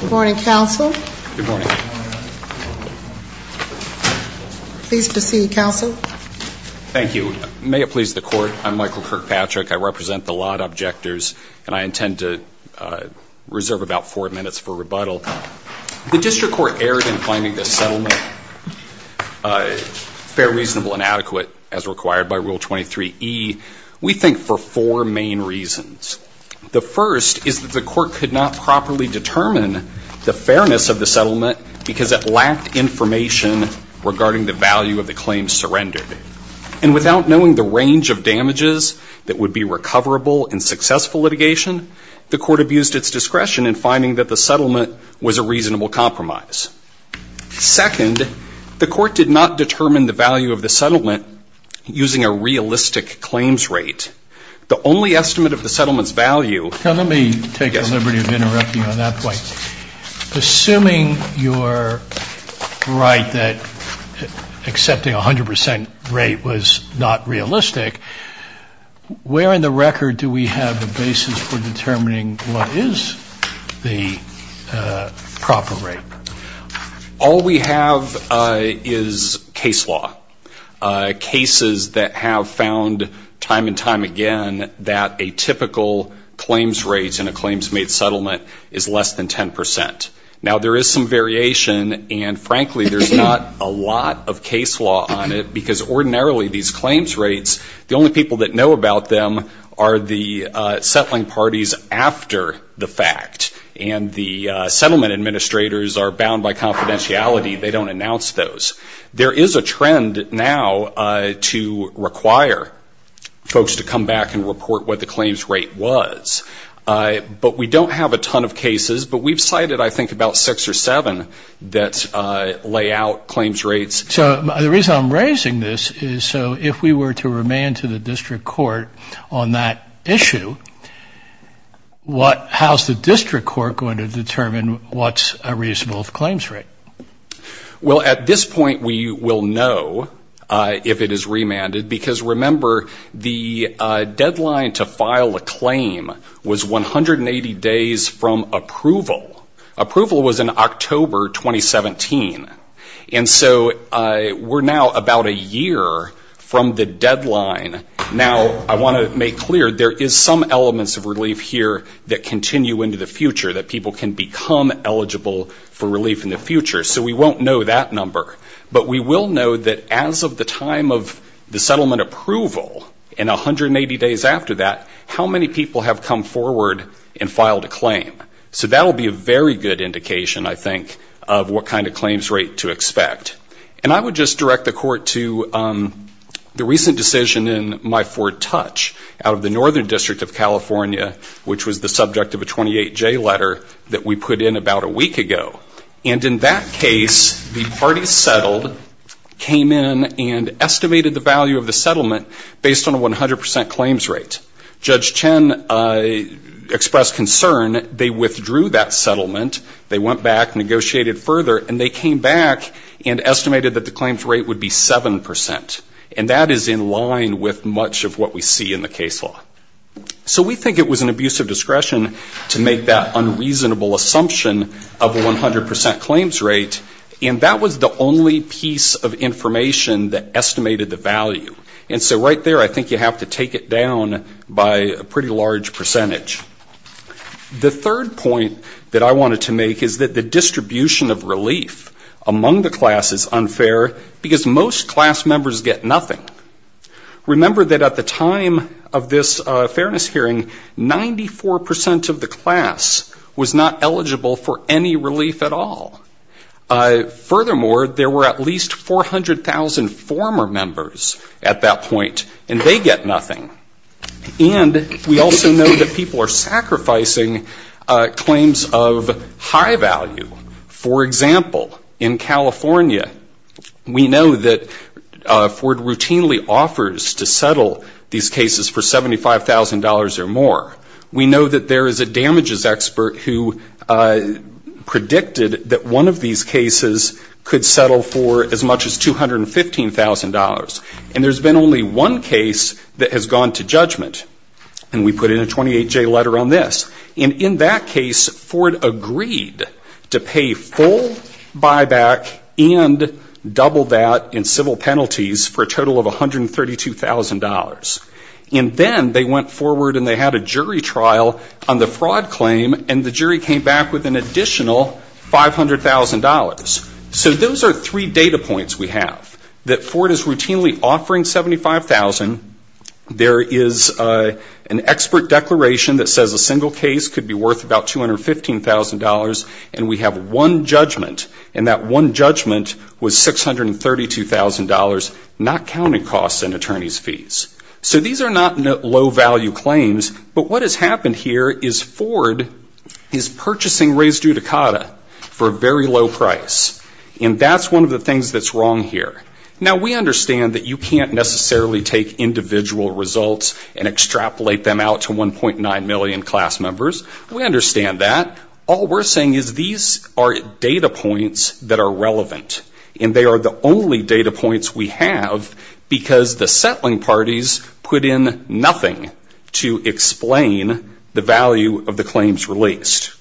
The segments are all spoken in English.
Good morning, Counsel. Good morning. Pleased to see you, Counsel. Thank you. May it please the Court, I'm Michael Kirkpatrick. I represent the lot objectors, and I intend to reserve about four minutes for rebuttal. The District Court erred in finding this settlement fair, reasonable, and adequate, as required by Rule 23e, we think, for four main reasons. The first is that the Court could not properly determine the fairness of the settlement because it lacked information regarding the value of the claims surrendered. And without knowing the range of damages that would be recoverable in successful litigation, the Court abused its discretion in finding that the settlement was a reasonable compromise. Second, the Court did not determine the value of the settlement using a realistic claims rate. The only estimate of the settlement's value... Now, let me take the liberty of interrupting you on that point. Assuming you're right that accepting a 100% rate was not realistic, where in the record do we have the basis for determining what is the proper rate? All we have is case law. Cases that have found time and time again that a typical claims rate in a claims-made settlement is less than 10%. Now, there is some variation, and frankly, there's not a lot of case law on it, because ordinarily these claims rates, the only people that know about them are the settling parties after the fact. And the settlement administrators are bound by confidentiality. They don't announce those. There is a trend now to require folks to come back and report what the claims rate was. But we don't have a ton of cases. But we've cited, I think, about six or seven that lay out claims rates. So the reason I'm raising this is so if we were to remand to the district court on that issue, how's the district court going to determine what's a reasonable claims rate? Well, at this point we will know if it is remanded, because remember, the deadline to file a claim was 180 days from approval. Approval was in October 2017. And so we're now about a year from the deadline. Now, I want to make clear, there is some elements of relief here that continue into the future, that people can become eligible for relief in the future. So we won't know that number. But we will know that as of the time of the settlement approval and 180 days after that, how many people have come forward and filed a claim. So that will be a very good indication, I think, of what kind of claims rate to expect. And I would just direct the court to the recent decision in My Ford Touch out of the Northern District of California, which was the subject of a 28-J letter that we put in about a week ago. And in that case, the parties settled, came in, and estimated the value of the settlement based on a 100 percent claims rate. Judge Chen expressed concern. They withdrew that settlement. They went back, negotiated further, and they came back and estimated that the claims rate would be 7 percent. And that is in line with much of what we see in the case law. So we think it was an abuse of discretion to make that unreasonable assumption of a 100 percent claims rate. And that was the only piece of information that estimated the value. And so right there, I think you have to take it down by a pretty large percentage. The third point that I wanted to make is that the distribution of relief among the class is unfair because most class members get nothing. Remember that at the time of this fairness hearing, 94 percent of the class was not eligible for any relief at all. Furthermore, there were at least 400,000 former members at that point, and they get nothing. And we also know that people are sacrificing claims of high value. For example, in California, we know that Ford routinely offers to settle these cases for $75,000 or more. We know that there is a damages expert who predicted that one of these cases could settle for as much as $215,000. And there's been only one case that has gone to judgment, and we put in a 28-J letter on this. And in that case, Ford agreed to pay full buyback and double that in civil penalties for a total of $132,000. And then they went forward and they had a jury trial on the fraud claim, and the jury came back with an additional $500,000. So those are three data points we have, that Ford is routinely offering $75,000. There is an expert declaration that says a single case could be worth about $215,000. And we have one judgment, and that one judgment was $632,000, not counting costs and attorney's fees. So these are not low-value claims, but what has happened here is Ford is purchasing Reyes-Duticata for a very low price. And that's one of the things that's wrong here. Now, we understand that you can't necessarily take individual results and extrapolate them out to 1.9 million class members. We understand that. All we're saying is these are data points that are relevant, and they are the only data points we have, because the settling parties put in nothing to explain the value of the claims released.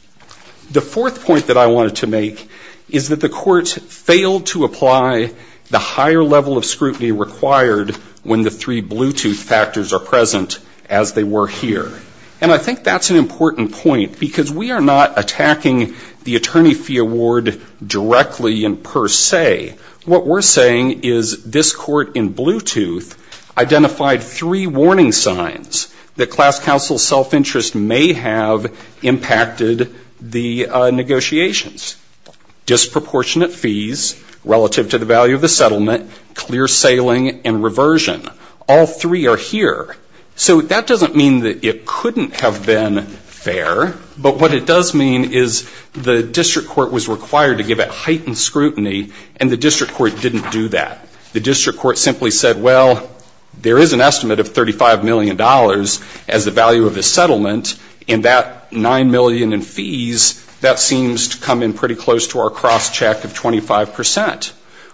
The fourth point that I wanted to make is that the court failed to apply the higher level of scrutiny required when the three Bluetooth factors are present, as they were here. And I think that's an important point, because we are not attacking the attorney fee award directly and per se. What we're saying is this court in Bluetooth identified three warning signs that class counsel self-interest may have impacted the negotiations. Disproportionate fees relative to the value of the settlement, clear sailing, and reversion. All three are here. So that doesn't mean that it couldn't have been fair, but what it does mean is the district court was required to give it heightened scrutiny, and the district court didn't do that. The district court simply said, well, there is an estimate of $35 million as the value of the settlement, and that $9 million in fees, that seems to come in pretty close to our cross-check of 25%.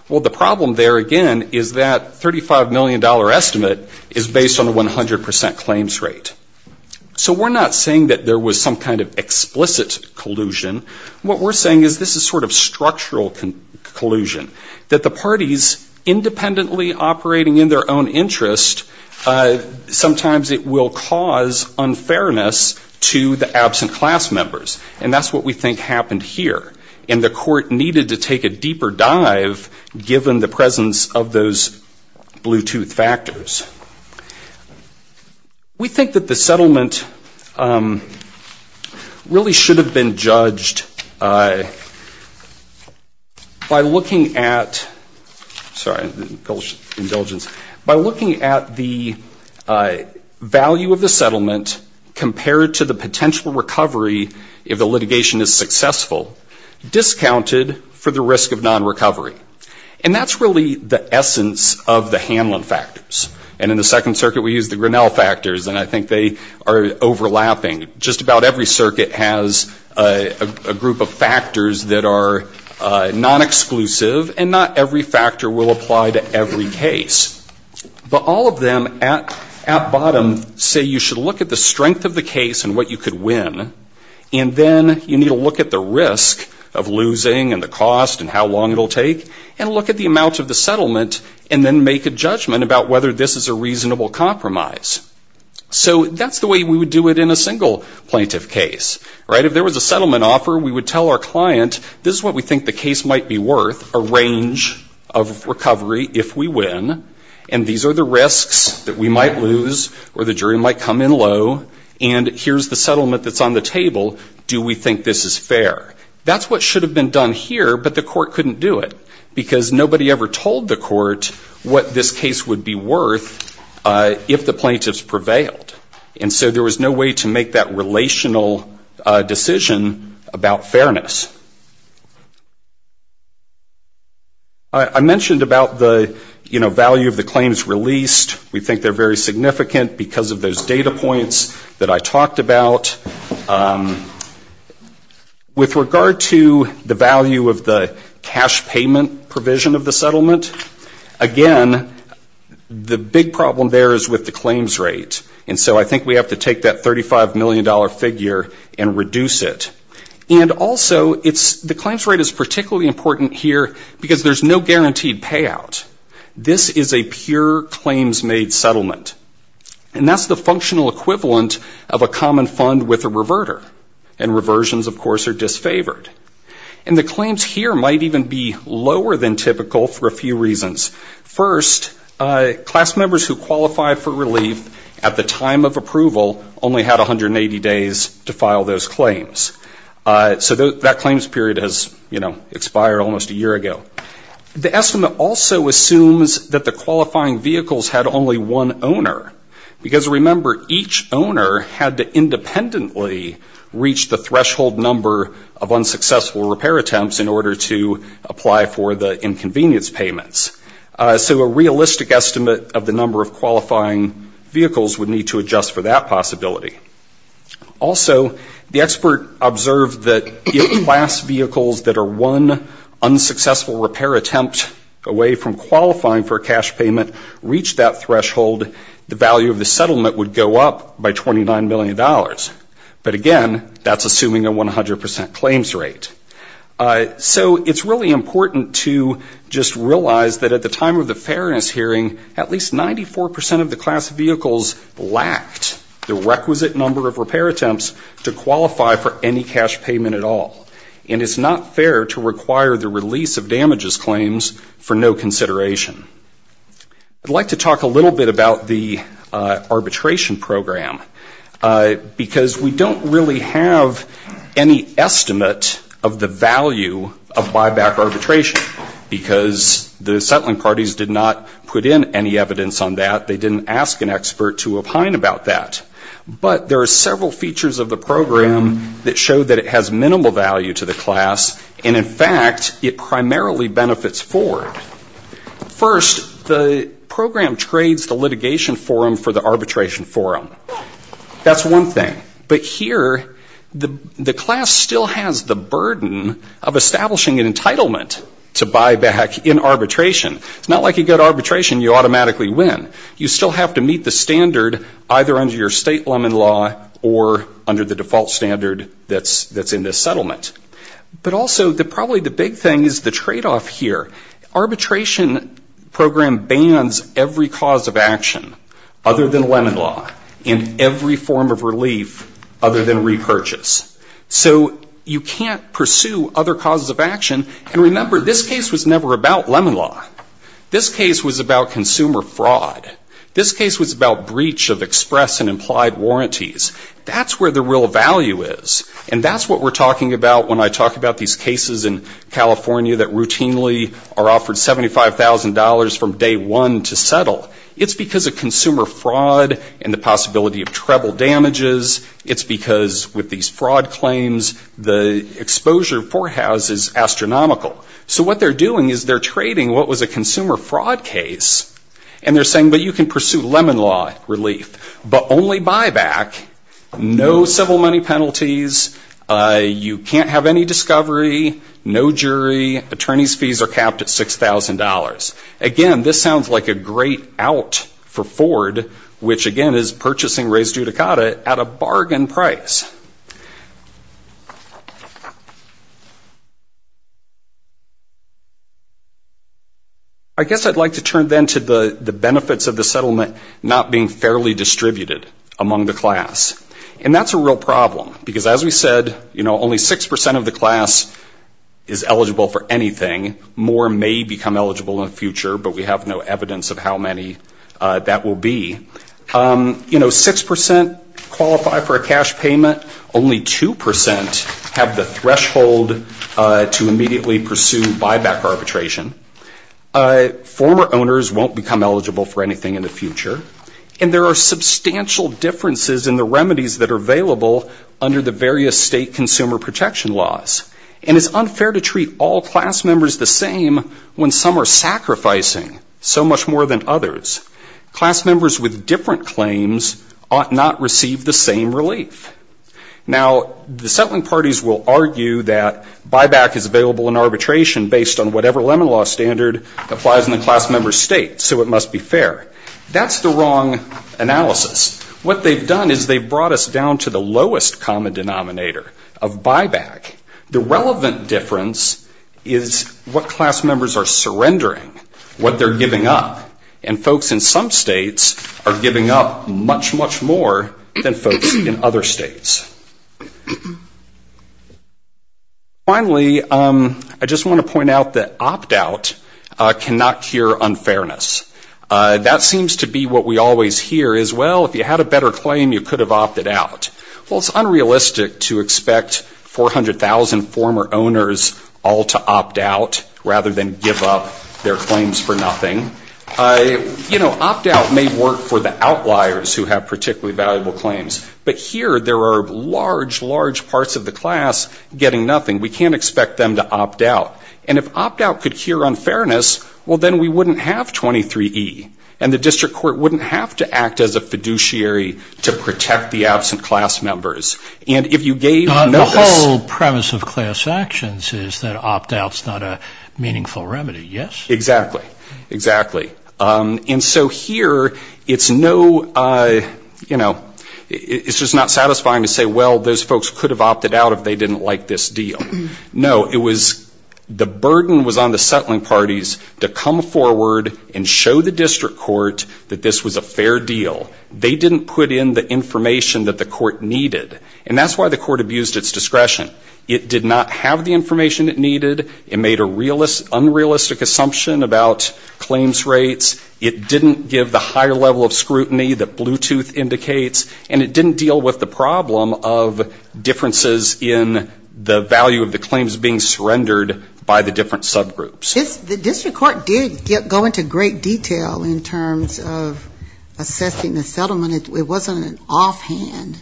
Well, the problem there, again, is that $35 million estimate is based on a 100% claims rate. So we're not saying that there was some kind of explicit collusion. What we're saying is this is sort of structural collusion, that the parties independently operating in their own interest, sometimes it will cause unfairness to the absent class members. And that's what we think happened here. And the court needed to take a deeper dive given the presence of those Bluetooth factors. We think that the settlement really should have been judged by looking at the value of the settlement compared to the potential recovery if the litigation is successful, discounted for the risk of non-recovery. And that's really the essence of the Hanlon factors. And in the Second Circuit, we use the Grinnell factors, and I think they are overlapping. Just about every circuit has a group of factors that are non-exclusive, and not every factor will apply to every case. But all of them at bottom say you should look at the strength of the case and what you could win, and then you need to look at the risk of losing and the cost and how long it will take, and look at the amount of the settlement, and then make a judgment about whether this is a reasonable compromise. So that's the way we would do it in a single plaintiff case. If there was a settlement offer, we would tell our client, this is what we think the case might be worth, a range of recovery if we win, and these are the risks that we might lose or the jury might come in low, and here's the settlement that's on the table. Do we think this is fair? That's what should have been done here, but the court couldn't do it because nobody ever told the court what this case would be worth if the plaintiffs prevailed. And so there was no way to make that relational decision about fairness. I mentioned about the, you know, value of the claims released. We think they're very significant because of those data points that I talked about. With regard to the value of the cash payment provision of the settlement, again, the big problem there is with the claims rate. And so I think we have to take that $35 million figure and reduce it. And also, the claims rate is particularly important here because there's no guaranteed payout. This is a pure claims-made settlement, and that's the functional equivalent of a common fund with a reverter, and reversions, of course, are disfavored. And the claims here might even be lower than typical for a few reasons. First, class members who qualify for relief at the time of approval only had 180 days to file those claims. So that claims period has, you know, expired almost a year ago. The estimate also assumes that the qualifying vehicles had only one owner because, remember, each owner had to independently reach the threshold number of unsuccessful repair attempts in order to apply for the inconvenience payments. So a realistic estimate of the number of qualifying vehicles would need to adjust for that possibility. Also, the expert observed that if class vehicles that are one unsuccessful repair attempt away from qualifying for a cash payment reached that threshold, the value of the settlement would go up by $29 million. But again, that's assuming a 100% claims rate. So it's really important to just realize that at the time of the fairness hearing, at least 94% of the class vehicles lacked the requisite number of repair attempts to qualify for any cash payment at all. And it's not fair to require the release of damages claims for no consideration. I'd like to talk a little bit about the arbitration program. Because we don't really have any estimate of the value of buyback arbitration. Because the settling parties did not put in any evidence on that. They didn't ask an expert to opine about that. But there are several features of the program that show that it has minimal value to the class. And, in fact, it primarily benefits Ford. First, the program trades the litigation forum for the arbitration forum. That's one thing. But here, the class still has the burden of establishing an entitlement to buyback in arbitration. It's not like you go to arbitration, you automatically win. You still have to meet the standard either under your state lemon law or under the default standard that's in this settlement. But also, probably the big thing is the tradeoff here. Arbitration program bans every cause of action other than lemon law and every form of relief other than repurchase. So you can't pursue other causes of action. And remember, this case was never about lemon law. This case was about consumer fraud. This case was about breach of express and implied warranties. That's where the real value is. And that's what we're talking about when I talk about these cases in California that routinely are offered $75,000 from day one to settle. It's because of consumer fraud and the possibility of treble damages. It's because with these fraud claims, the exposure forehouse is astronomical. So what they're doing is they're trading what was a consumer fraud case and they're saying, but you can pursue lemon law relief. But only buyback, no civil money penalties. You can't have any discovery, no jury. Attorney's fees are capped at $6,000. Again, this sounds like a great out for Ford, which, again, is purchasing Reyes Judicata at a bargain price. I guess I'd like to turn then to the benefits of the settlement not being fairly distributed among the class. And that's a real problem, because as we said, you know, only 6% of the class is eligible for anything. More may become eligible in the future, but we have no evidence of how many that will be. You know, 6% qualify for a cash payment. Only 2% have the threshold to immediately pursue buyback arbitration. Former owners won't become eligible for anything in the future. And there are substantial differences in the remedies that are available under the various state consumer protection laws. And it's unfair to treat all class members the same when some are sacrificing so much more than others. Class members with different claims ought not receive the same relief. Now, the settling parties will argue that buyback is available in arbitration based on whatever lemon law standard applies in the class member's state, so it must be fair. That's the wrong analysis. What they've done is they've brought us down to the lowest common denominator of buyback. The relevant difference is what class members are surrendering, what they're giving up. And folks in some states are giving up much, much more than folks in other states. Finally, I just want to point out that opt out cannot cure unfairness. That seems to be what we always hear is, well, if you had a better claim, you could have opted out. Well, it's unrealistic to expect 400,000 former owners all to opt out rather than give up their claims for nothing. You know, opt out may work for the outliers who have particularly valuable claims. But here there are large, large parts of the class getting nothing. We can't expect them to opt out. And if opt out could cure unfairness, well, then we wouldn't have 23E. And the district court wouldn't have to act as a fiduciary to protect the absent class members. And if you gave notice... The whole premise of class actions is that opt out is not a meaningful remedy, yes? Exactly. Exactly. And so here it's no, you know, it's just not satisfying to say, well, those folks could have opted out if they didn't like this deal. No, it was the burden was on the settling parties to come forward and show the district court that this was a fair deal. They didn't put in the information that the court needed. And that's why the court abused its discretion. It did not have the information it needed. It made a unrealistic assumption about claims rates. It didn't give the higher level of scrutiny that Bluetooth indicates. And it didn't deal with the problem of differences in the value of the claims being surrendered by the different subgroups. The district court did go into great detail in terms of assessing the settlement. It wasn't an offhand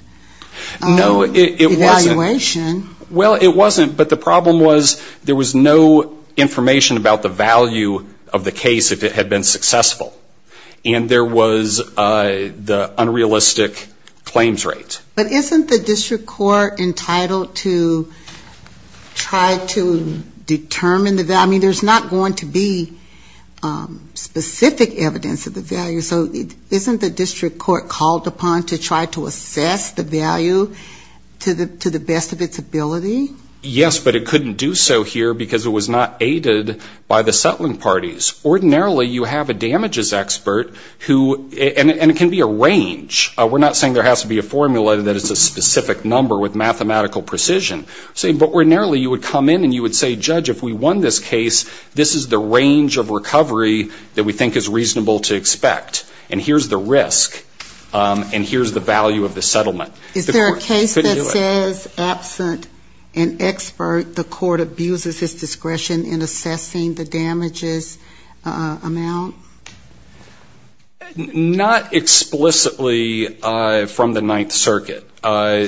evaluation. No, it wasn't. Well, it wasn't, but the problem was there was no information about the value of the case if it had been successful. And there was the unrealistic claims rate. But isn't the district court entitled to try to determine the value? I mean, there's not going to be specific evidence of the value. So isn't the district court called upon to try to assess the value to the best of its ability? Yes, but it couldn't do so here because it was not aided by the settling parties. Ordinarily you have a damages expert who, and it can be a range. We're not saying there has to be a formula that it's a specific number with mathematical precision. But ordinarily you would come in and you would say, judge, if we won this case, this is the range of recovery that we think is reasonable to expect, and here's the risk, and here's the value of the settlement. Is there a case that says absent an expert, the court abuses its discretion in assessing the damages amount? Not explicitly from the Ninth Circuit.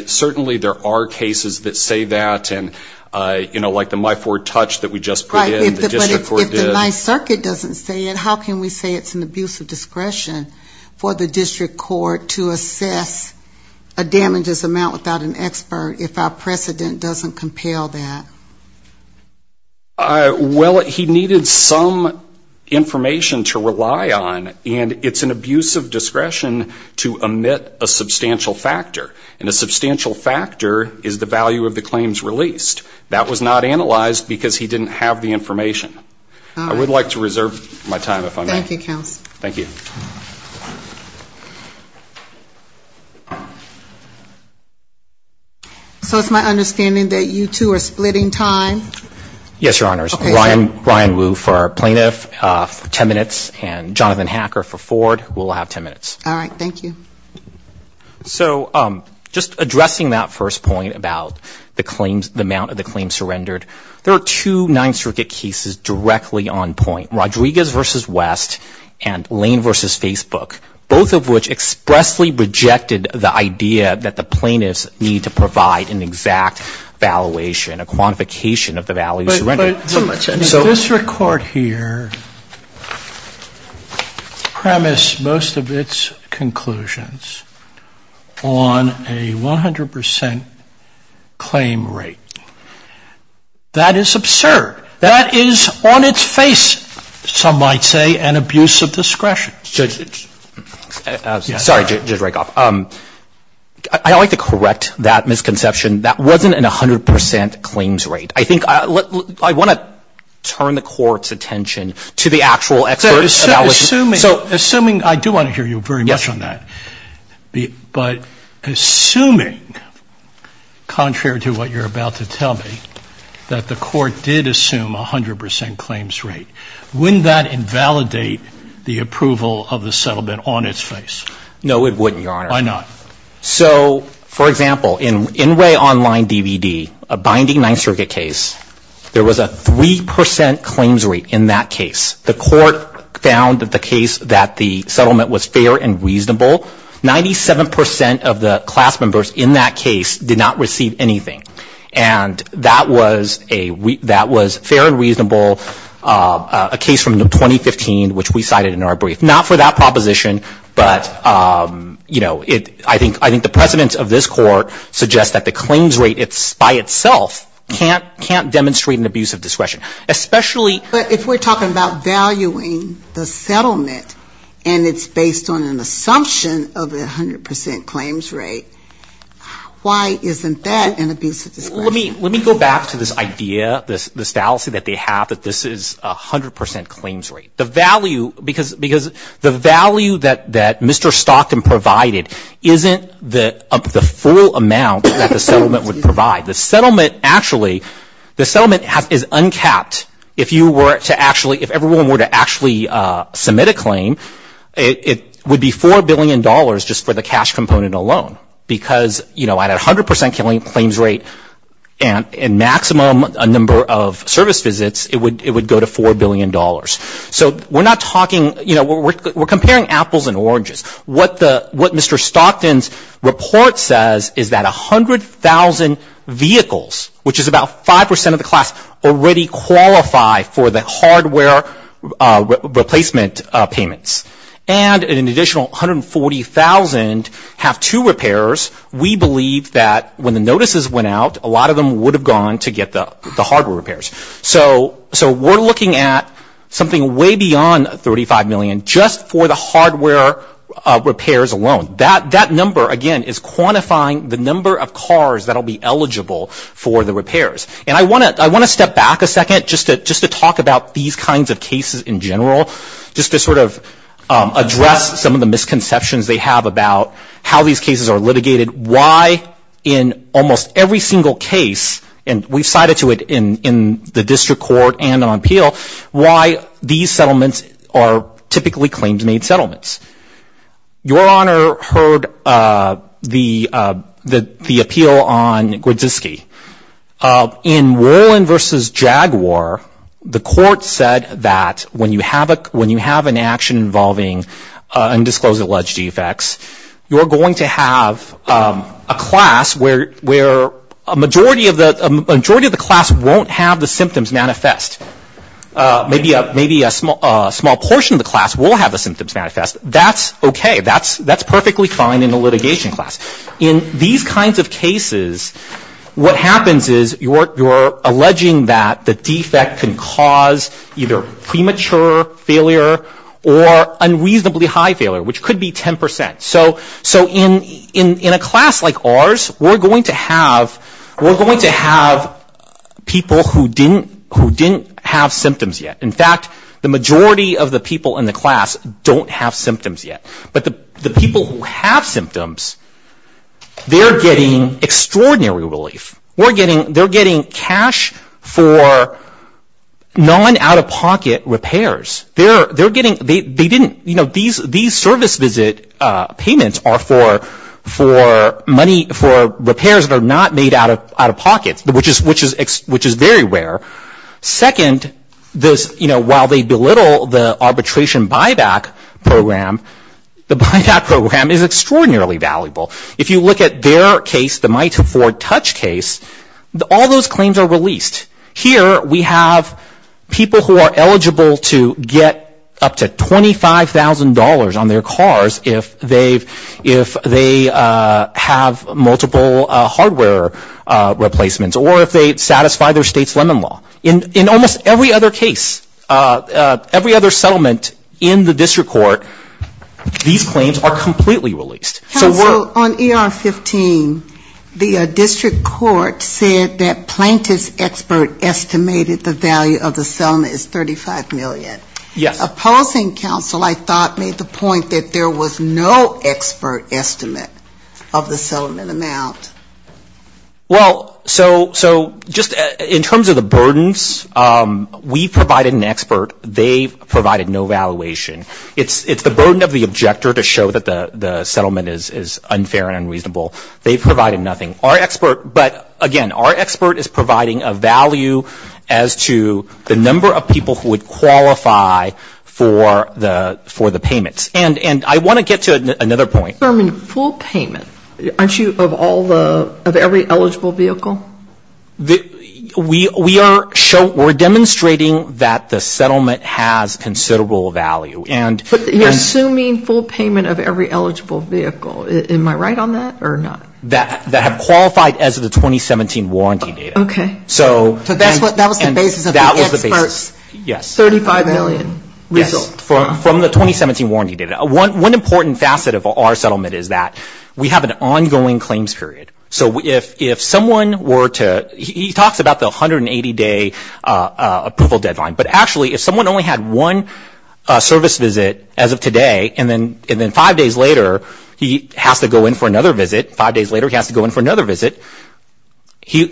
Certainly there are cases that say that, and, you know, like the My Ford Touch that we just put in, the district court did. Right, but if the Ninth Circuit doesn't say it, how can we say it's an abuse of discretion for the district court to assess a damages amount without an expert if our precedent doesn't compel that? Well, he needed some information to rely on, and it's an abuse of discretion to omit a substantial factor. And a substantial factor is the value of the claims released. That was not analyzed because he didn't have the information. I would like to reserve my time if I may. Thank you, counsel. So it's my understanding that you two are splitting time. Yes, Your Honors. Ryan Wu for plaintiff, 10 minutes, and Jonathan Hacker for Ford. We'll have 10 minutes. All right. Thank you. So just addressing that first point about the claims, the amount of the claims surrendered. There are two Ninth Circuit cases directly on point, Rodriguez v. West and Lane v. Facebook, both of which expressly rejected the idea that the plaintiffs need to provide an exact valuation, a quantification of the value surrendered. So this record here premised most of its conclusions on a 100 percent claim rate. That is absurd. That is on its face, some might say, an abuse of discretion. Sorry, Judge Rakoff. I'd like to correct that misconception. That wasn't an 100 percent claims rate. I want to turn the Court's attention to the actual expert evaluation. Assuming, I do want to hear you very much on that, but assuming, contrary to what you're about to tell me, that the Court did assume a 100 percent claims rate, wouldn't that invalidate the approval of the settlement on its face? No, it wouldn't, Your Honor. Why not? So, for example, in Inway Online DVD, a binding Ninth Circuit case, there was a 3 percent claims rate in that case. The Court found that the case, that the settlement was fair and reasonable. Ninety-seven percent of the class members in that case did not receive anything. And that was fair and reasonable, a case from 2015, which we cited in our brief. Not for that proposition, but, you know, I think the precedence of this Court suggests that the claims rate is 100 percent claims rate. But if we're talking about valuing the settlement, and it's based on an assumption of a 100 percent claims rate, why isn't that an abusive description? Let me go back to this idea, this fallacy that they have that this is a 100 percent claims rate. The value that Mr. Stockton provided isn't the full amount that the settlement would provide. The settlement actually, the settlement is uncapped. If you were to actually, if everyone were to actually submit a claim, it would be $4 billion just for the cash component alone. Because, you know, at a 100 percent claims rate and maximum number of service visits, it would go to $4 billion. So we're not talking, you know, we're comparing apples and oranges. What Mr. Stockton's report says is that 100,000 vehicles, which is about 5 percent of the class, already qualify for the hardware replacement payments. And an additional 140,000 have two repairs. We believe that when the notices went out, a lot of them would have gone to get the hardware repairs. So we're looking at something way beyond $35 million just for the hardware repairs alone. That number, again, is quantifying the number of cars that will be eligible for the repairs. And I want to step back a second just to talk about these kinds of cases in general, just to sort of address some of the misconceptions they have about how these cases are litigated. Why, in almost every single case, and we've cited to it in the district court and on appeal, why these settlements are typically claims made settlements. Your Honor heard the appeal on Grodziski. In Wollin v. Jaguar, the court said that when you have an action involving undisclosed alleged defects, you're going to have a class where a majority of the class won't have the symptoms manifest. Maybe a small portion of the class will have the symptoms manifest. That's okay. That's perfectly fine in a litigation class. In these kinds of cases, what happens is you're alleging that the defect can cause either premature failure or unreasonably high failure, which could be 10%. So in a class like ours, we're going to have people who didn't have symptoms yet. In fact, the majority of the people in the class don't have symptoms yet. But the people who have symptoms, they're getting extraordinary relief. They're getting cash for non-out-of-pocket repairs. These service visit payments are for money, for repairs that are not made out of pocket, which is very rare. Second, while they belittle the arbitration buyback program, the buyback program is extraordinarily valuable. If you look at their case, the Mite to Ford Touch case, all those claims are released. Here we have people who are eligible to get up to $25,000 on their cars if they have multiple hardware replacements, or if they satisfy their state's lemon law. In almost every other case, every other settlement in the district court, these claims are completely released. So we're ‑‑ the expert estimated the value of the settlement is $35 million. Opposing counsel, I thought, made the point that there was no expert estimate of the settlement amount. Well, so just in terms of the burdens, we provided an expert. They provided no valuation. It's the burden of the objector to show that the settlement is unfair and unreasonable. They provided nothing. Our expert, but again, our expert is providing a value as to the number of people who would qualify for the payments. And I want to get to another point. Full payment, aren't you, of every eligible vehicle? We are demonstrating that the settlement has considerable value. But you're assuming full payment of every eligible vehicle. Am I right on that or not? That have qualified as of the 2017 warranty data. Okay. So that was the basis of the experts. $35 million from the 2017 warranty data. One important facet of our settlement is that we have an ongoing claims period. So if someone were to ‑‑ he talks about the 180‑day approval deadline. But actually, if someone only had one service visit as of today, and then five days later, he has to go in for another visit, five days later he has to go in for another visit,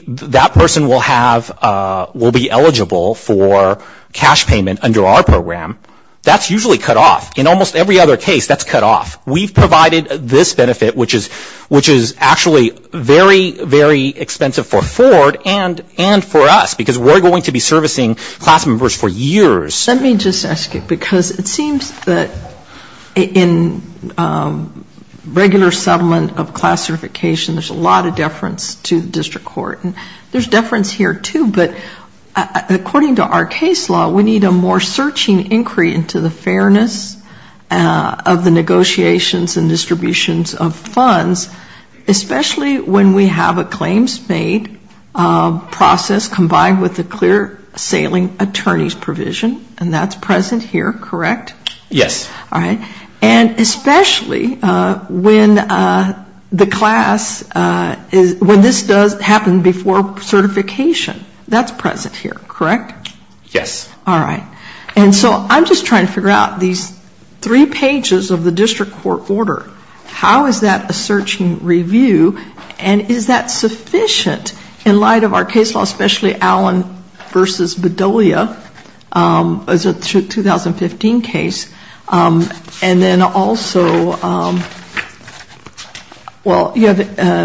that person will have ‑‑ will be eligible for cash payment under our program. That's usually cut off. In almost every other case, that's cut off. We've provided this benefit, which is actually very, very expensive for Ford and for us. Because we're going to be servicing class members for years. Let me just ask you, because it seems that in regular settlement of class certification, there's a lot of deference to the district court. And there's deference here, too, but according to our case law, we need a more searching inquiry into the fairness of the negotiations and distributions of funds, especially when we have a claims‑made process combined with a clear sailing attorney's provision. And that's present here, correct? Yes. And especially when the class ‑‑ when this does happen before certification. That's present here, correct? Yes. All right. And so I'm just trying to figure out these three pages of the district court order. How is that a searching review? And is that sufficient in light of our case law, especially Allen v. Bedolia? It's a 2015 case. And then also, well, you have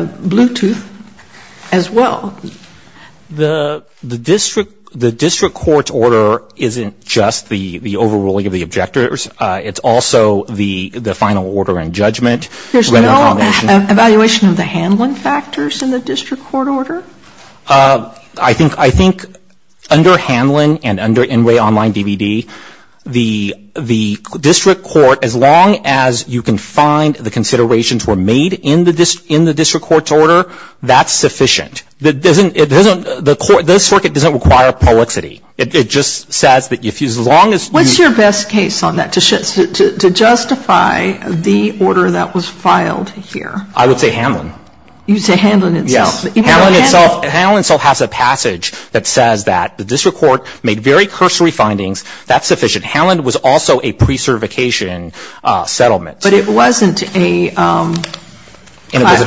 Bluetooth as well. The district court's order isn't just the overruling of the objectors. It's also the final order in judgment. There's no evaluation of the handling factors in the district court order? I think under Hanlon and under NRA Online DVD, the district court, as long as you can find the considerations were made in the district court's order, that's sufficient. The circuit doesn't require poexity. What's your best case on that, to justify the order that was filed here? I would say Hanlon. Hanlon itself has a passage that says that the district court made very cursory findings. That's sufficient. Hanlon was also a precertification settlement. But it wasn't a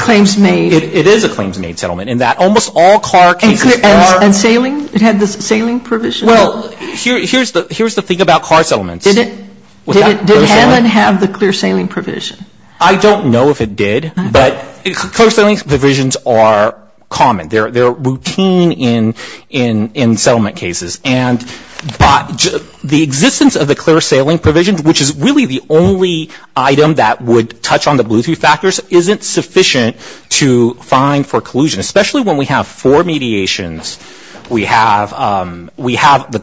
claims made? It is a claims made settlement in that almost all car cases are. And sailing? It had the sailing provision? Well, here's the thing about car settlements. Did Hanlon have the clear sailing provision? I don't know if it did, but clear sailing provisions are common. They're routine in settlement cases. But the existence of the clear sailing provision, which is really the only item that would touch on the blue three factors, isn't sufficient to find for collusion. Especially when we have four mediations. We have the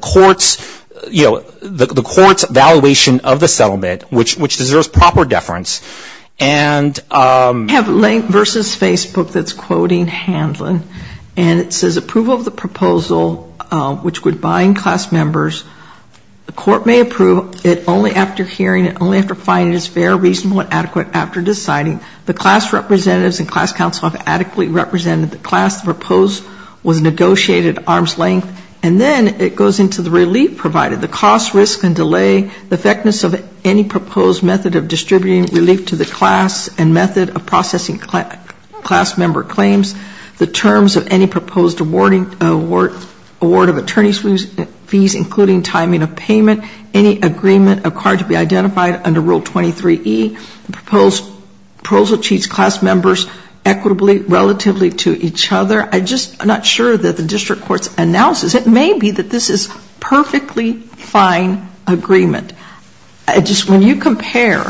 court's evaluation of the settlement, which deserves proper deference. And we have Lane versus Facebook that's quoting Hanlon. And it says approval of the proposal, which would bind class members. The court may approve it only after hearing it, only after finding it is fair, reasonable and adequate after deciding. The class representatives and class counsel have adequately represented the class. The proposed was negotiated at arm's length. And then it goes into the relief provided, the cost, risk and delay, the effectiveness of any proposed method of distributing relief to the class and method of processing class member claims, the terms of any proposed award of attorney's fees, including timing of payment, any agreement of card to be identified under Rule 23E, the proposed proposal treats class members equitably, relatively to each other. I just am not sure that the district court's analysis, it may be that this is perfectly fine agreement. Just when you compare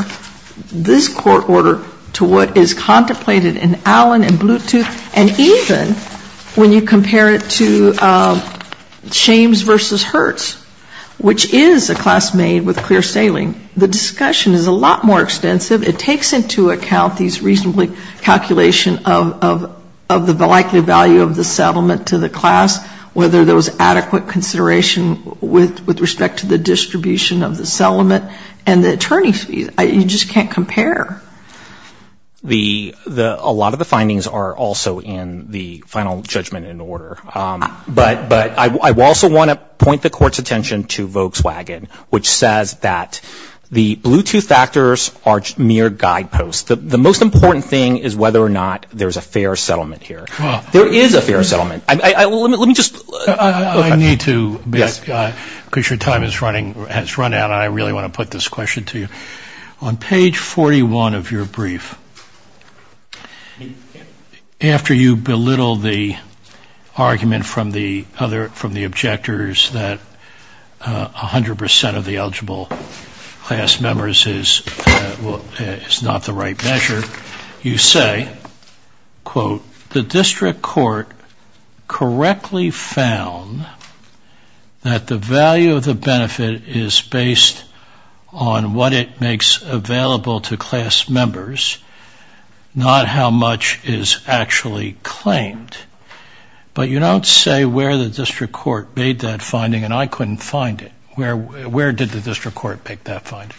this court order to what is contemplated in Allen and Bluetooth, and even when you compare it to Shames versus Hertz, which is a class made with clear saline, the discussion is a lot more extensive. It takes into account these reasonably calculation of the likelihood value of the settlement to the class, whether there was adequate consideration with respect to the distribution of the settlement and the attorney's fees. You just can't compare. A lot of the findings are also in the final judgment in order. But I also want to point the Court's attention to Volkswagen, which says that the Bluetooth factors are mere guideposts. The most important thing is whether or not there's a fair settlement here. There is a fair settlement. Let me just... I need to, because your time has run out, and I really want to put this question to you. On page 41 of your brief, after you belittle the argument from the objectors that 100% of the eligible class members is not the right measure, you say, quote, the district court correctly found that the value of the benefit is based on what it makes available to class members, not how much is actually claimed. But you don't say where the district court made that finding, and I couldn't find it. Where did the district court make that finding?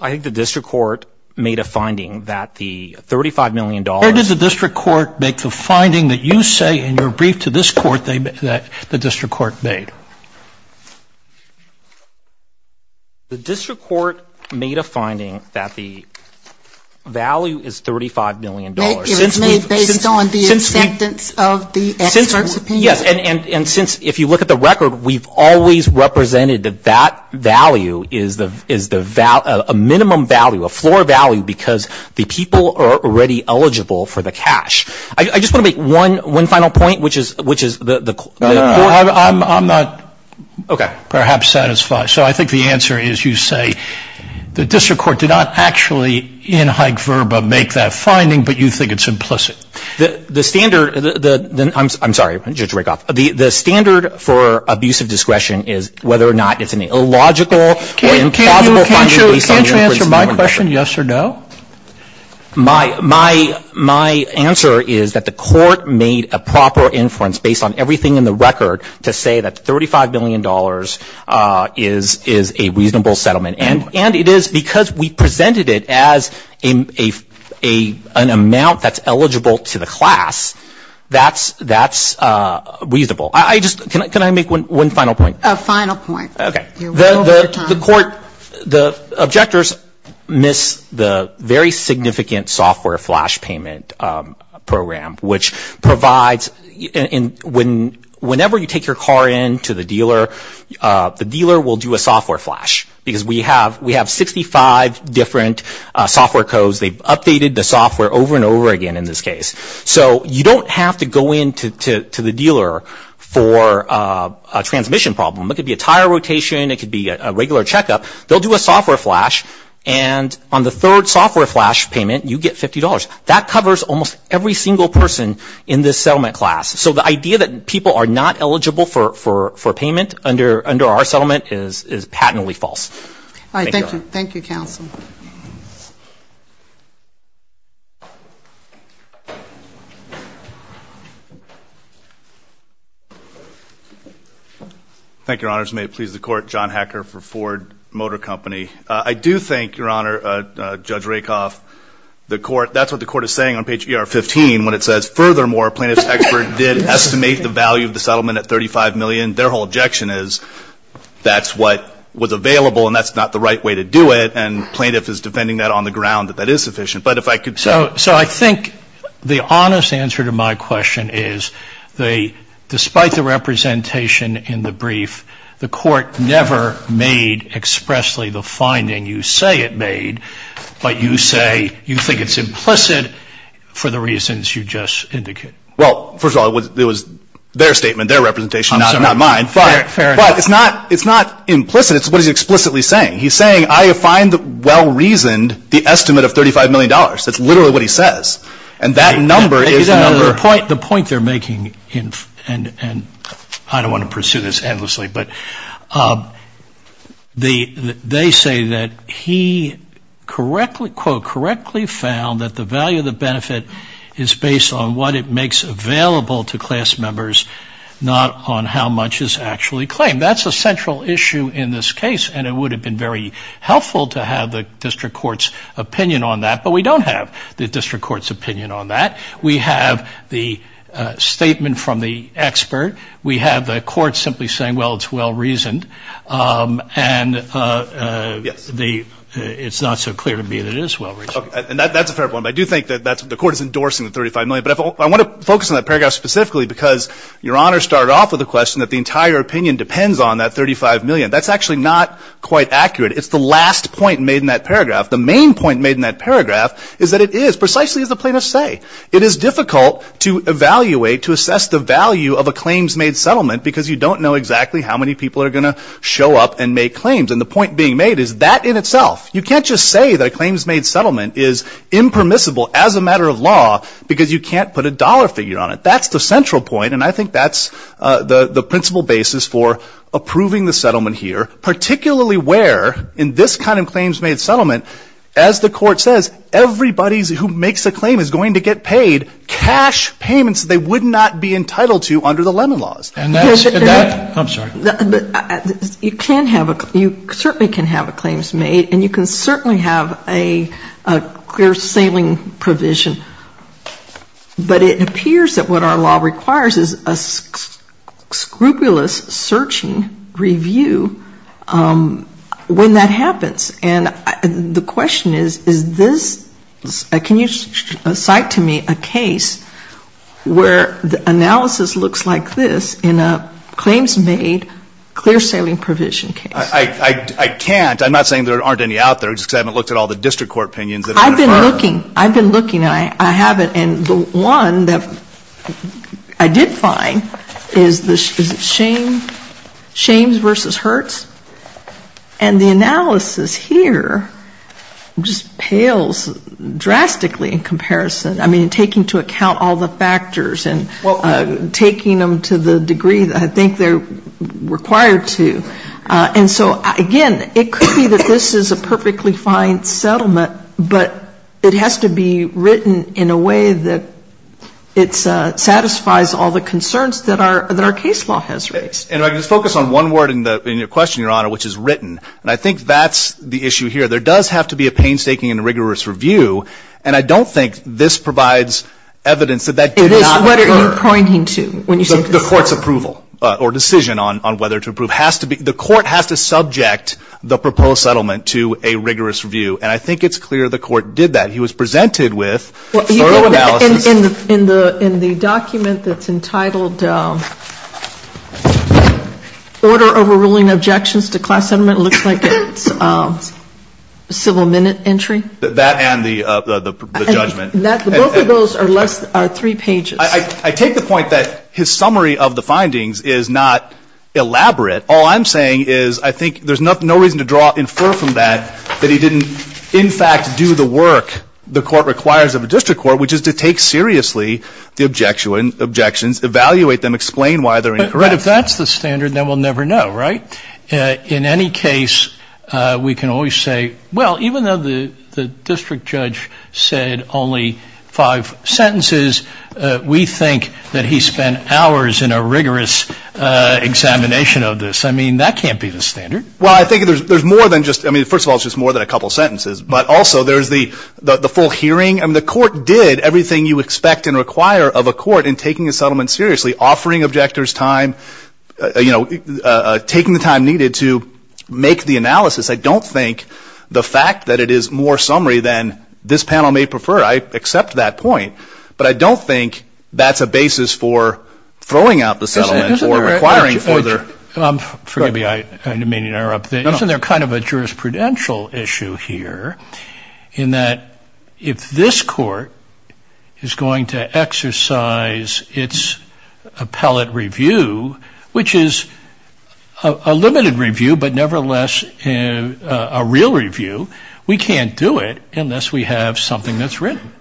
I think the district court made a finding that the $35 million... Where did the district court make the finding that you say in your brief to this court that the district court made? The district court made a finding that the value is $35 million. It was made based on the acceptance of the expert's opinion. And since, if you look at the record, we've always represented that that value is a minimum value, a floor value, because the people are already eligible for the cash. I just want to make one final point, which is... I'm not perhaps satisfied. So I think the answer is you say the district court did not actually in hyperbole make that finding, but you think it's implicit. I'm sorry, Judge Rakoff. The standard for abuse of discretion is whether or not it's an illogical or implausible... Can't you answer my question, yes or no? My answer is that the court made a proper inference based on everything in the record to say that $35 million is a reasonable settlement. And it is because we presented it as an amount that's eligible to the class that's reasonable. Can I make one final point? A final point. The court, the objectors missed the very significant software flash payment program, which provides, whenever you take your car in to the dealer, the dealer will do a software flash. Because we have 65 different software codes. They've updated the software over and over again in this case. So you don't have to go in to the dealer for a transmission problem. It could be a tire rotation, it could be a regular checkup. They'll do a software flash, and on the third software flash payment you get $50. That covers almost every single person in this settlement class. So the idea that people are not eligible for payment under our settlement is patently false. Thank you, counsel. Thank you, Your Honors. May it please the Court, John Hacker for Ford Motor Company. I do think, Your Honor, Judge Rakoff, the court, that's what the court is saying on page ER15 when it says, furthermore, a plaintiff's expert did estimate the value of the settlement at $35 million. Their whole objection is that's what was available and that's not the right way to do it, and the plaintiff is defending that on the ground, that that is sufficient. So I think the honest answer to my question is, despite the representation in the brief, the court never made expressly the finding you say it made, but you say you think it's implicit for the reasons you just indicated. Well, first of all, it was their statement, their representation, not mine. But it's not implicit. It's what he's explicitly saying. He's saying I find well-reasoned the estimate of $35 million. That's literally what he says, and that number is the number. The point they're making, and I don't want to pursue this endlessly, but they say that he, quote, correctly found that the value of the benefit is based on what it makes available to class members, not on how much is actually claimed. That's a central issue in this case, and it would have been very helpful to have the district court's opinion on that, but we don't have the district court's opinion on that. We have the statement from the expert. We have the court simply saying, well, it's well-reasoned, and it's not so clear to me that it is well-reasoned. And that's a fair point, but I do think that the court is endorsing the $35 million. But I want to focus on that paragraph specifically because Your Honor started off with a question that the entire opinion depends on that $35 million. That's actually not quite accurate. It's the last point made in that paragraph. The main point made in that paragraph is that it is, precisely as the plaintiffs say, it is difficult to evaluate, to assess the value of a claims-made settlement, because you don't know exactly how many people are going to show up and make claims. And the point being made is that in itself. You can't just say that a claims-made settlement is impermissible as a matter of law because you can't put a dollar figure on it. That's the central point, and I think that's the principal basis for approving the settlement here, particularly where in this kind of claims-made settlement, as the court says, everybody who makes a claim is going to get paid cash payments they would not be entitled to under the Lemon Laws. And that's, I'm sorry. You can have a, you certainly can have a claims-made, and you can certainly have a clear-sailing provision. But it appears that what our law requires is a scrupulous searching review when that happens. And the question is, is this, can you cite to me a case where the analysis looks like this in a claims-made, clear-sailing provision case? I can't. I'm not saying there aren't any out there, just because I haven't looked at all the district court opinions. I've been looking. I've been looking, and I haven't. And the one that I did find is the, is it Shames v. Hertz? And the analysis here just pales drastically in comparison. I mean, taking into account all the factors and taking them to the degree that I think they're required to. And so, again, it could be that this is a perfectly fine settlement, but it has to be written in a way that it satisfies all the concerns that our case law has raised. And I can just focus on one word in your question, Your Honor, which is written. And I think that's the issue here. There does have to be a painstaking and rigorous review. And I don't think this provides evidence that that did not occur. What are you pointing to when you say this? The court's approval or decision on whether to approve. The court has to subject the proposed settlement to a rigorous review. And I think it's clear the court did that. He was presented with thorough analysis. In the document that's entitled, Order Overruling Objections to Class Settlement, it looks like it's civil minute entry. That and the judgment. Both of those are less than three pages. I take the point that his summary of the findings is not elaborate. All I'm saying is I think there's no reason to infer from that that he didn't, in fact, do the work the court requires of a district court, which is to take seriously the objections, evaluate them, explain why they're incorrect. Right. If that's the standard, then we'll never know, right? In any case, we can always say, well, even though the district judge said only five sentences, we think that he spent hours in a rigorous examination of this. I mean, that can't be the standard. Well, I think there's more than just ‑‑ I mean, first of all, it's just more than a couple sentences. But also there's the full hearing. I mean, the court did everything you expect and require of a court in taking a settlement seriously, offering objectors time, you know, taking the time needed to make the analysis. I don't think the fact that it is more summary than this panel may prefer, I accept that point. But I don't think that's a basis for throwing out the settlement or requiring further ‑‑ which is a limited review, but nevertheless a real review. We can't do it unless we have something that's written.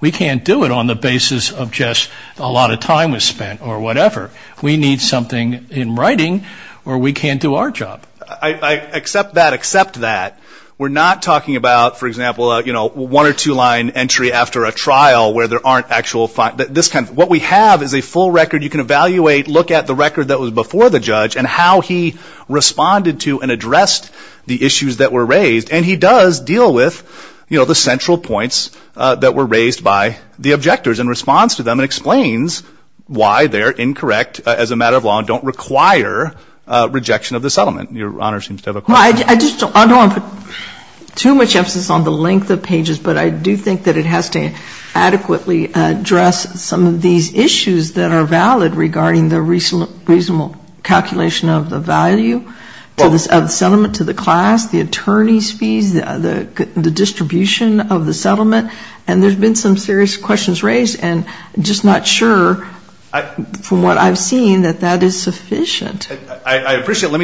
We can't do it on the basis of just a lot of time was spent or whatever. We need something in writing or we can't do our job. I accept that, accept that. We're not talking about, for example, you know, one or two line entry after a trial where there aren't actual ‑‑ what we have is a full record. You can evaluate, look at the record that was before the judge and how he responded to and addressed the issues that were raised. And he does deal with, you know, the central points that were raised by the objectors in response to them and explains why they're incorrect as a matter of law and don't require rejection of the settlement. Your Honor seems to have a question. I don't want to put too much emphasis on the length of pages, but I do think that it has to adequately address some of these issues that are valid regarding the reasonable calculation of the value of the settlement to the class, the attorney's fees, the distribution of the settlement. And there's been some serious questions raised, and I'm just not sure from what I've seen that that is sufficient. I appreciate it.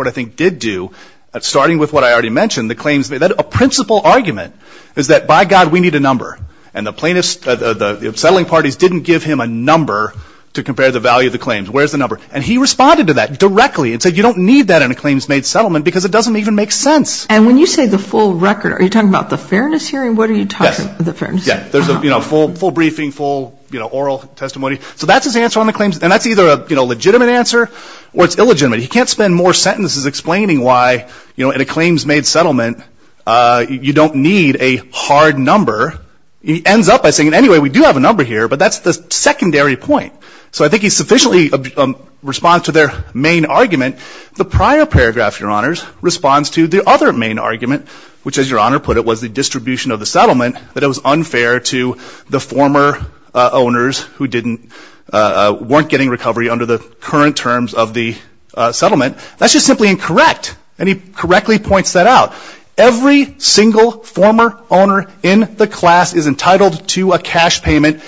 I think did do, starting with what I already mentioned, the claims made. A principal argument is that by God we need a number. And the plaintiffs, the settling parties didn't give him a number to compare the value of the claims. Where's the number? And he responded to that directly and said you don't need that in a claims made settlement because it doesn't even make sense. And when you say the full record, are you talking about the fairness hearing? What are you talking about? Yes. There's a full briefing, full oral testimony. So that's his answer on the claims. And that's either a legitimate answer or it's illegitimate. He can't spend more sentences explaining why in a claims made settlement you don't need a hard number. He ends up by saying anyway, we do have a number here, but that's the secondary point. So I think he sufficiently responds to their main argument. The prior paragraph, Your Honors, responds to the other main argument, which as Your Honor put it was the distribution of the settlement, that it was unfair to the former owners who weren't getting recovery under the current terms of the settlement. That's just simply incorrect. And he correctly points that out. Every single former owner in the class is entitled to a cash payment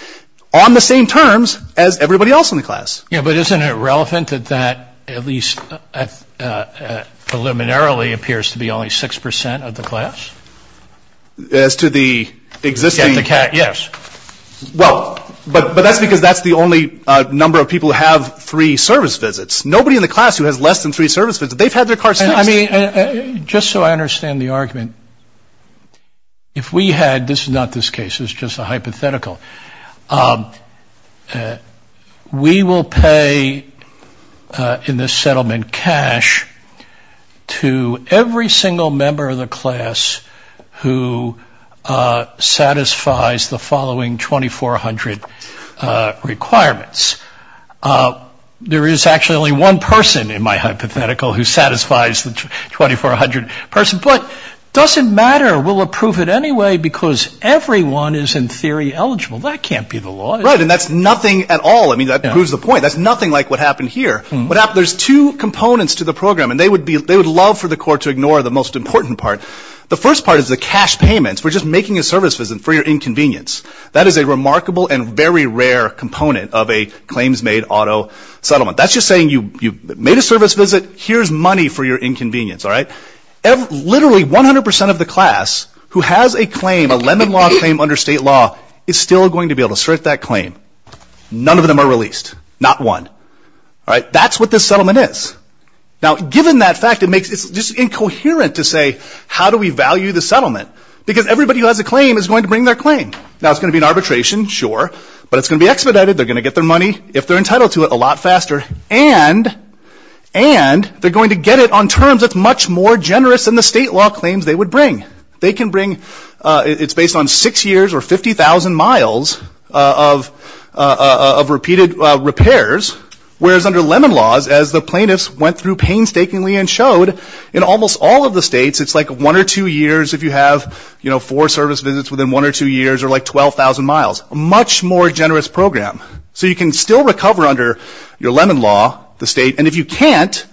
on the same terms as everybody else in the class. Yeah, but isn't it relevant that that at least preliminarily appears to be only 6% of the class? As to the existing? Yes. Well, but that's because that's the only number of people who have three service visits. Nobody in the class who has less than three service visits, they've had their cars fixed. I mean, just so I understand the argument, if we had, this is not this case, it's just a hypothetical, we will pay in this settlement cash to every single member of the class who satisfies the following 2400 requirements. There is actually only one person in my hypothetical who satisfies the 2400 person, but it doesn't matter. We'll approve it anyway because everyone is in theory eligible. That can't be the law. Right, and that's nothing at all. I mean, that proves the point. That's nothing like what happened here. There's two components to the program, and they would love for the court to ignore the most important part. The first part is the cash payments. We're just making a service visit for your inconvenience. That is a remarkable and very rare component of a claims-made auto settlement. That's just saying you made a service visit. Here's money for your inconvenience, all right? Literally 100% of the class who has a claim, a Lend-in-Law claim under state law, is still going to be able to assert that claim. None of them are released. Not one. All right, that's what this settlement is. Now, given that fact, it's just incoherent to say, how do we value the settlement? Because everybody who has a claim is going to bring their claim. Now, it's going to be an arbitration, sure, but it's going to be expedited. They're going to get their money if they're entitled to it a lot faster, and they're going to get it on terms that's much more generous than the state law claims they would bring. They can bring, it's based on six years or 50,000 miles of repeated repairs, whereas under Lend-in-Laws, as the plaintiffs went through painstakingly and showed, in almost all of the states, it's like one or two years if you have four service visits within one or two years, or like 12,000 miles, a much more generous program. So you can still recover under your Lend-in-Law, the state, and if you can't,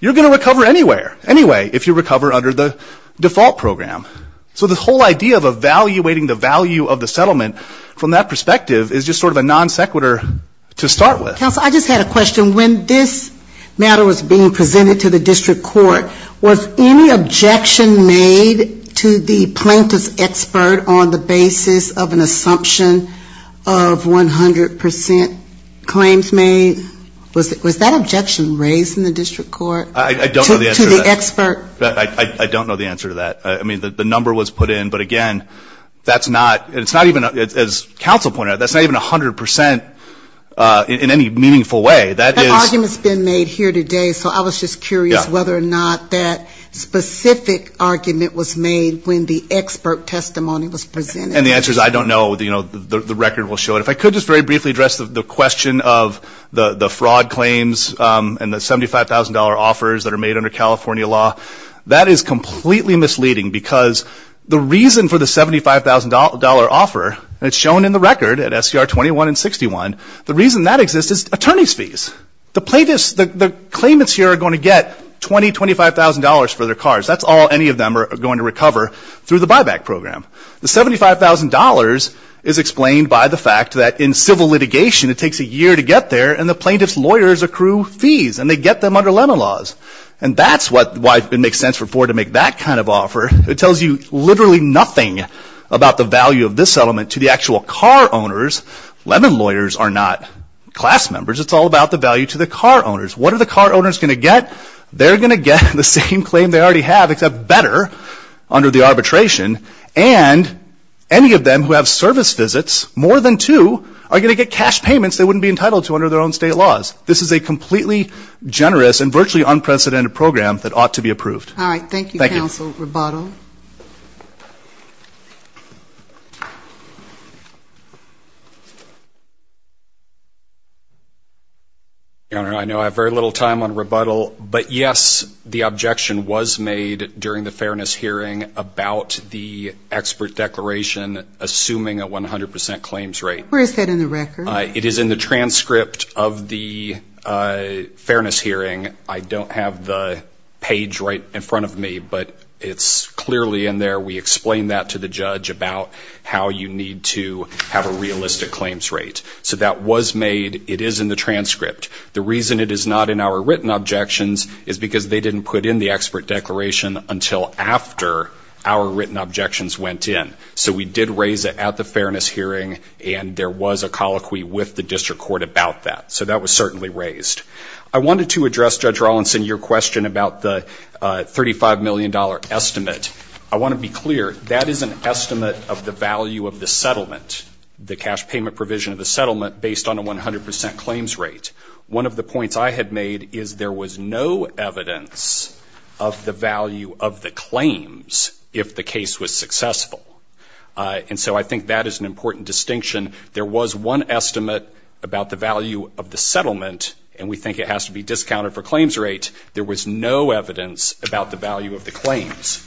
you're going to recover anywhere, anyway, if you recover under the default program. So the whole idea of evaluating the value of the settlement from that perspective is just sort of a non sequitur to start with. Counsel, I just had a question. When this matter was being presented to the district court, was any objection made to the plaintiff's expert on the basis of an assumption of 100% claims made? Was that objection raised in the district court? To the expert? I don't know the answer to that. I mean, the number was put in, but again, that's not, it's not even, as counsel pointed out, that's not even 100% in any meaningful way. That argument's been made here today, so I was just curious whether or not that specific argument was made when the expert testimony was presented. And the answer is I don't know. The record will show it. If I could just very briefly address the question of the fraud claims and the $75,000 offers that are made under California law. That is completely misleading because the reason for the $75,000 offer, and it's shown in the record at SCR 21 and 61, the reason that exists is attorney's fees. The plaintiffs, the claimants here are going to get $20,000, $25,000 for their cars. That's all any of them are going to recover through the buyback program. The $75,000 is explained by the fact that in civil litigation it takes a year to get there, and the plaintiff's lawyers accrue fees, and they get them under Lemon laws. And that's why it makes sense for Ford to make that kind of offer. It tells you literally nothing about the value of this settlement to the actual car owners. Lemon lawyers are not class members. It's all about the value to the car owners. What are the car owners going to get? They're going to get the same claim they already have except better under the arbitration. And any of them who have service visits, more than two, are going to get cash payments they wouldn't be entitled to under their own state laws. This is a completely generous and virtually unprecedented program that ought to be approved. All right. Thank you, Counsel Roboto. Thank you. Thank you. Your Honor, I know I have very little time on rebuttal, but yes, the objection was made during the fairness hearing about the expert declaration assuming a 100 percent claims rate. Where is that in the record? It is in the transcript of the fairness hearing. I don't have the page right in front of me, but it's clearly in there. We explained that to the judge about how you need to have a realistic claims rate. So that was made. It is in the transcript. The reason it is not in our written objections is because they didn't put in the expert declaration until after our written objections went in. So we did raise it at the fairness hearing, and there was a colloquy with the district court about that. So that was certainly raised. I wanted to address, Judge Rawlinson, your question about the $35 million estimate. I want to be clear, that is an estimate of the value of the settlement, the cash payment provision of the settlement, based on a 100 percent claims rate. One of the points I had made is there was no evidence of the value of the claims if the case was successful. And so I think that is an important distinction. There was one estimate about the value of the settlement, and we think it has to be discounted for claims rate. There was no evidence about the value of the claims.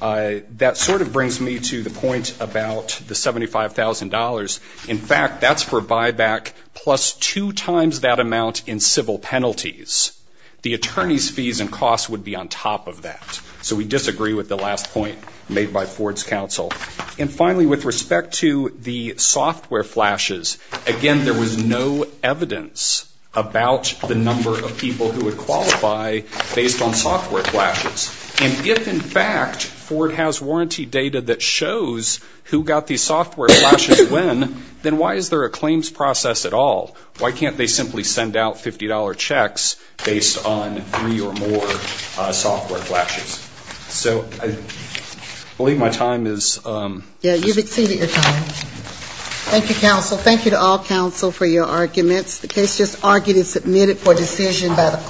That sort of brings me to the point about the $75,000. In fact, that is for buyback plus two times that amount in civil penalties. The attorney's fees and costs would be on top of that. So we disagree with the last point made by Ford's counsel. And finally, with respect to the software flashes, again, there was no evidence about the number of people who would qualify based on software flashes. And if, in fact, Ford has warranty data that shows who got these software flashes when, then why is there a claims process at all? Why can't they simply send out $50 checks based on three or more software flashes? So I believe my time is up. Yeah, you've exceeded your time. Thank you, counsel. Thank you to all counsel for your arguments. The case is argued and submitted for decision by the court.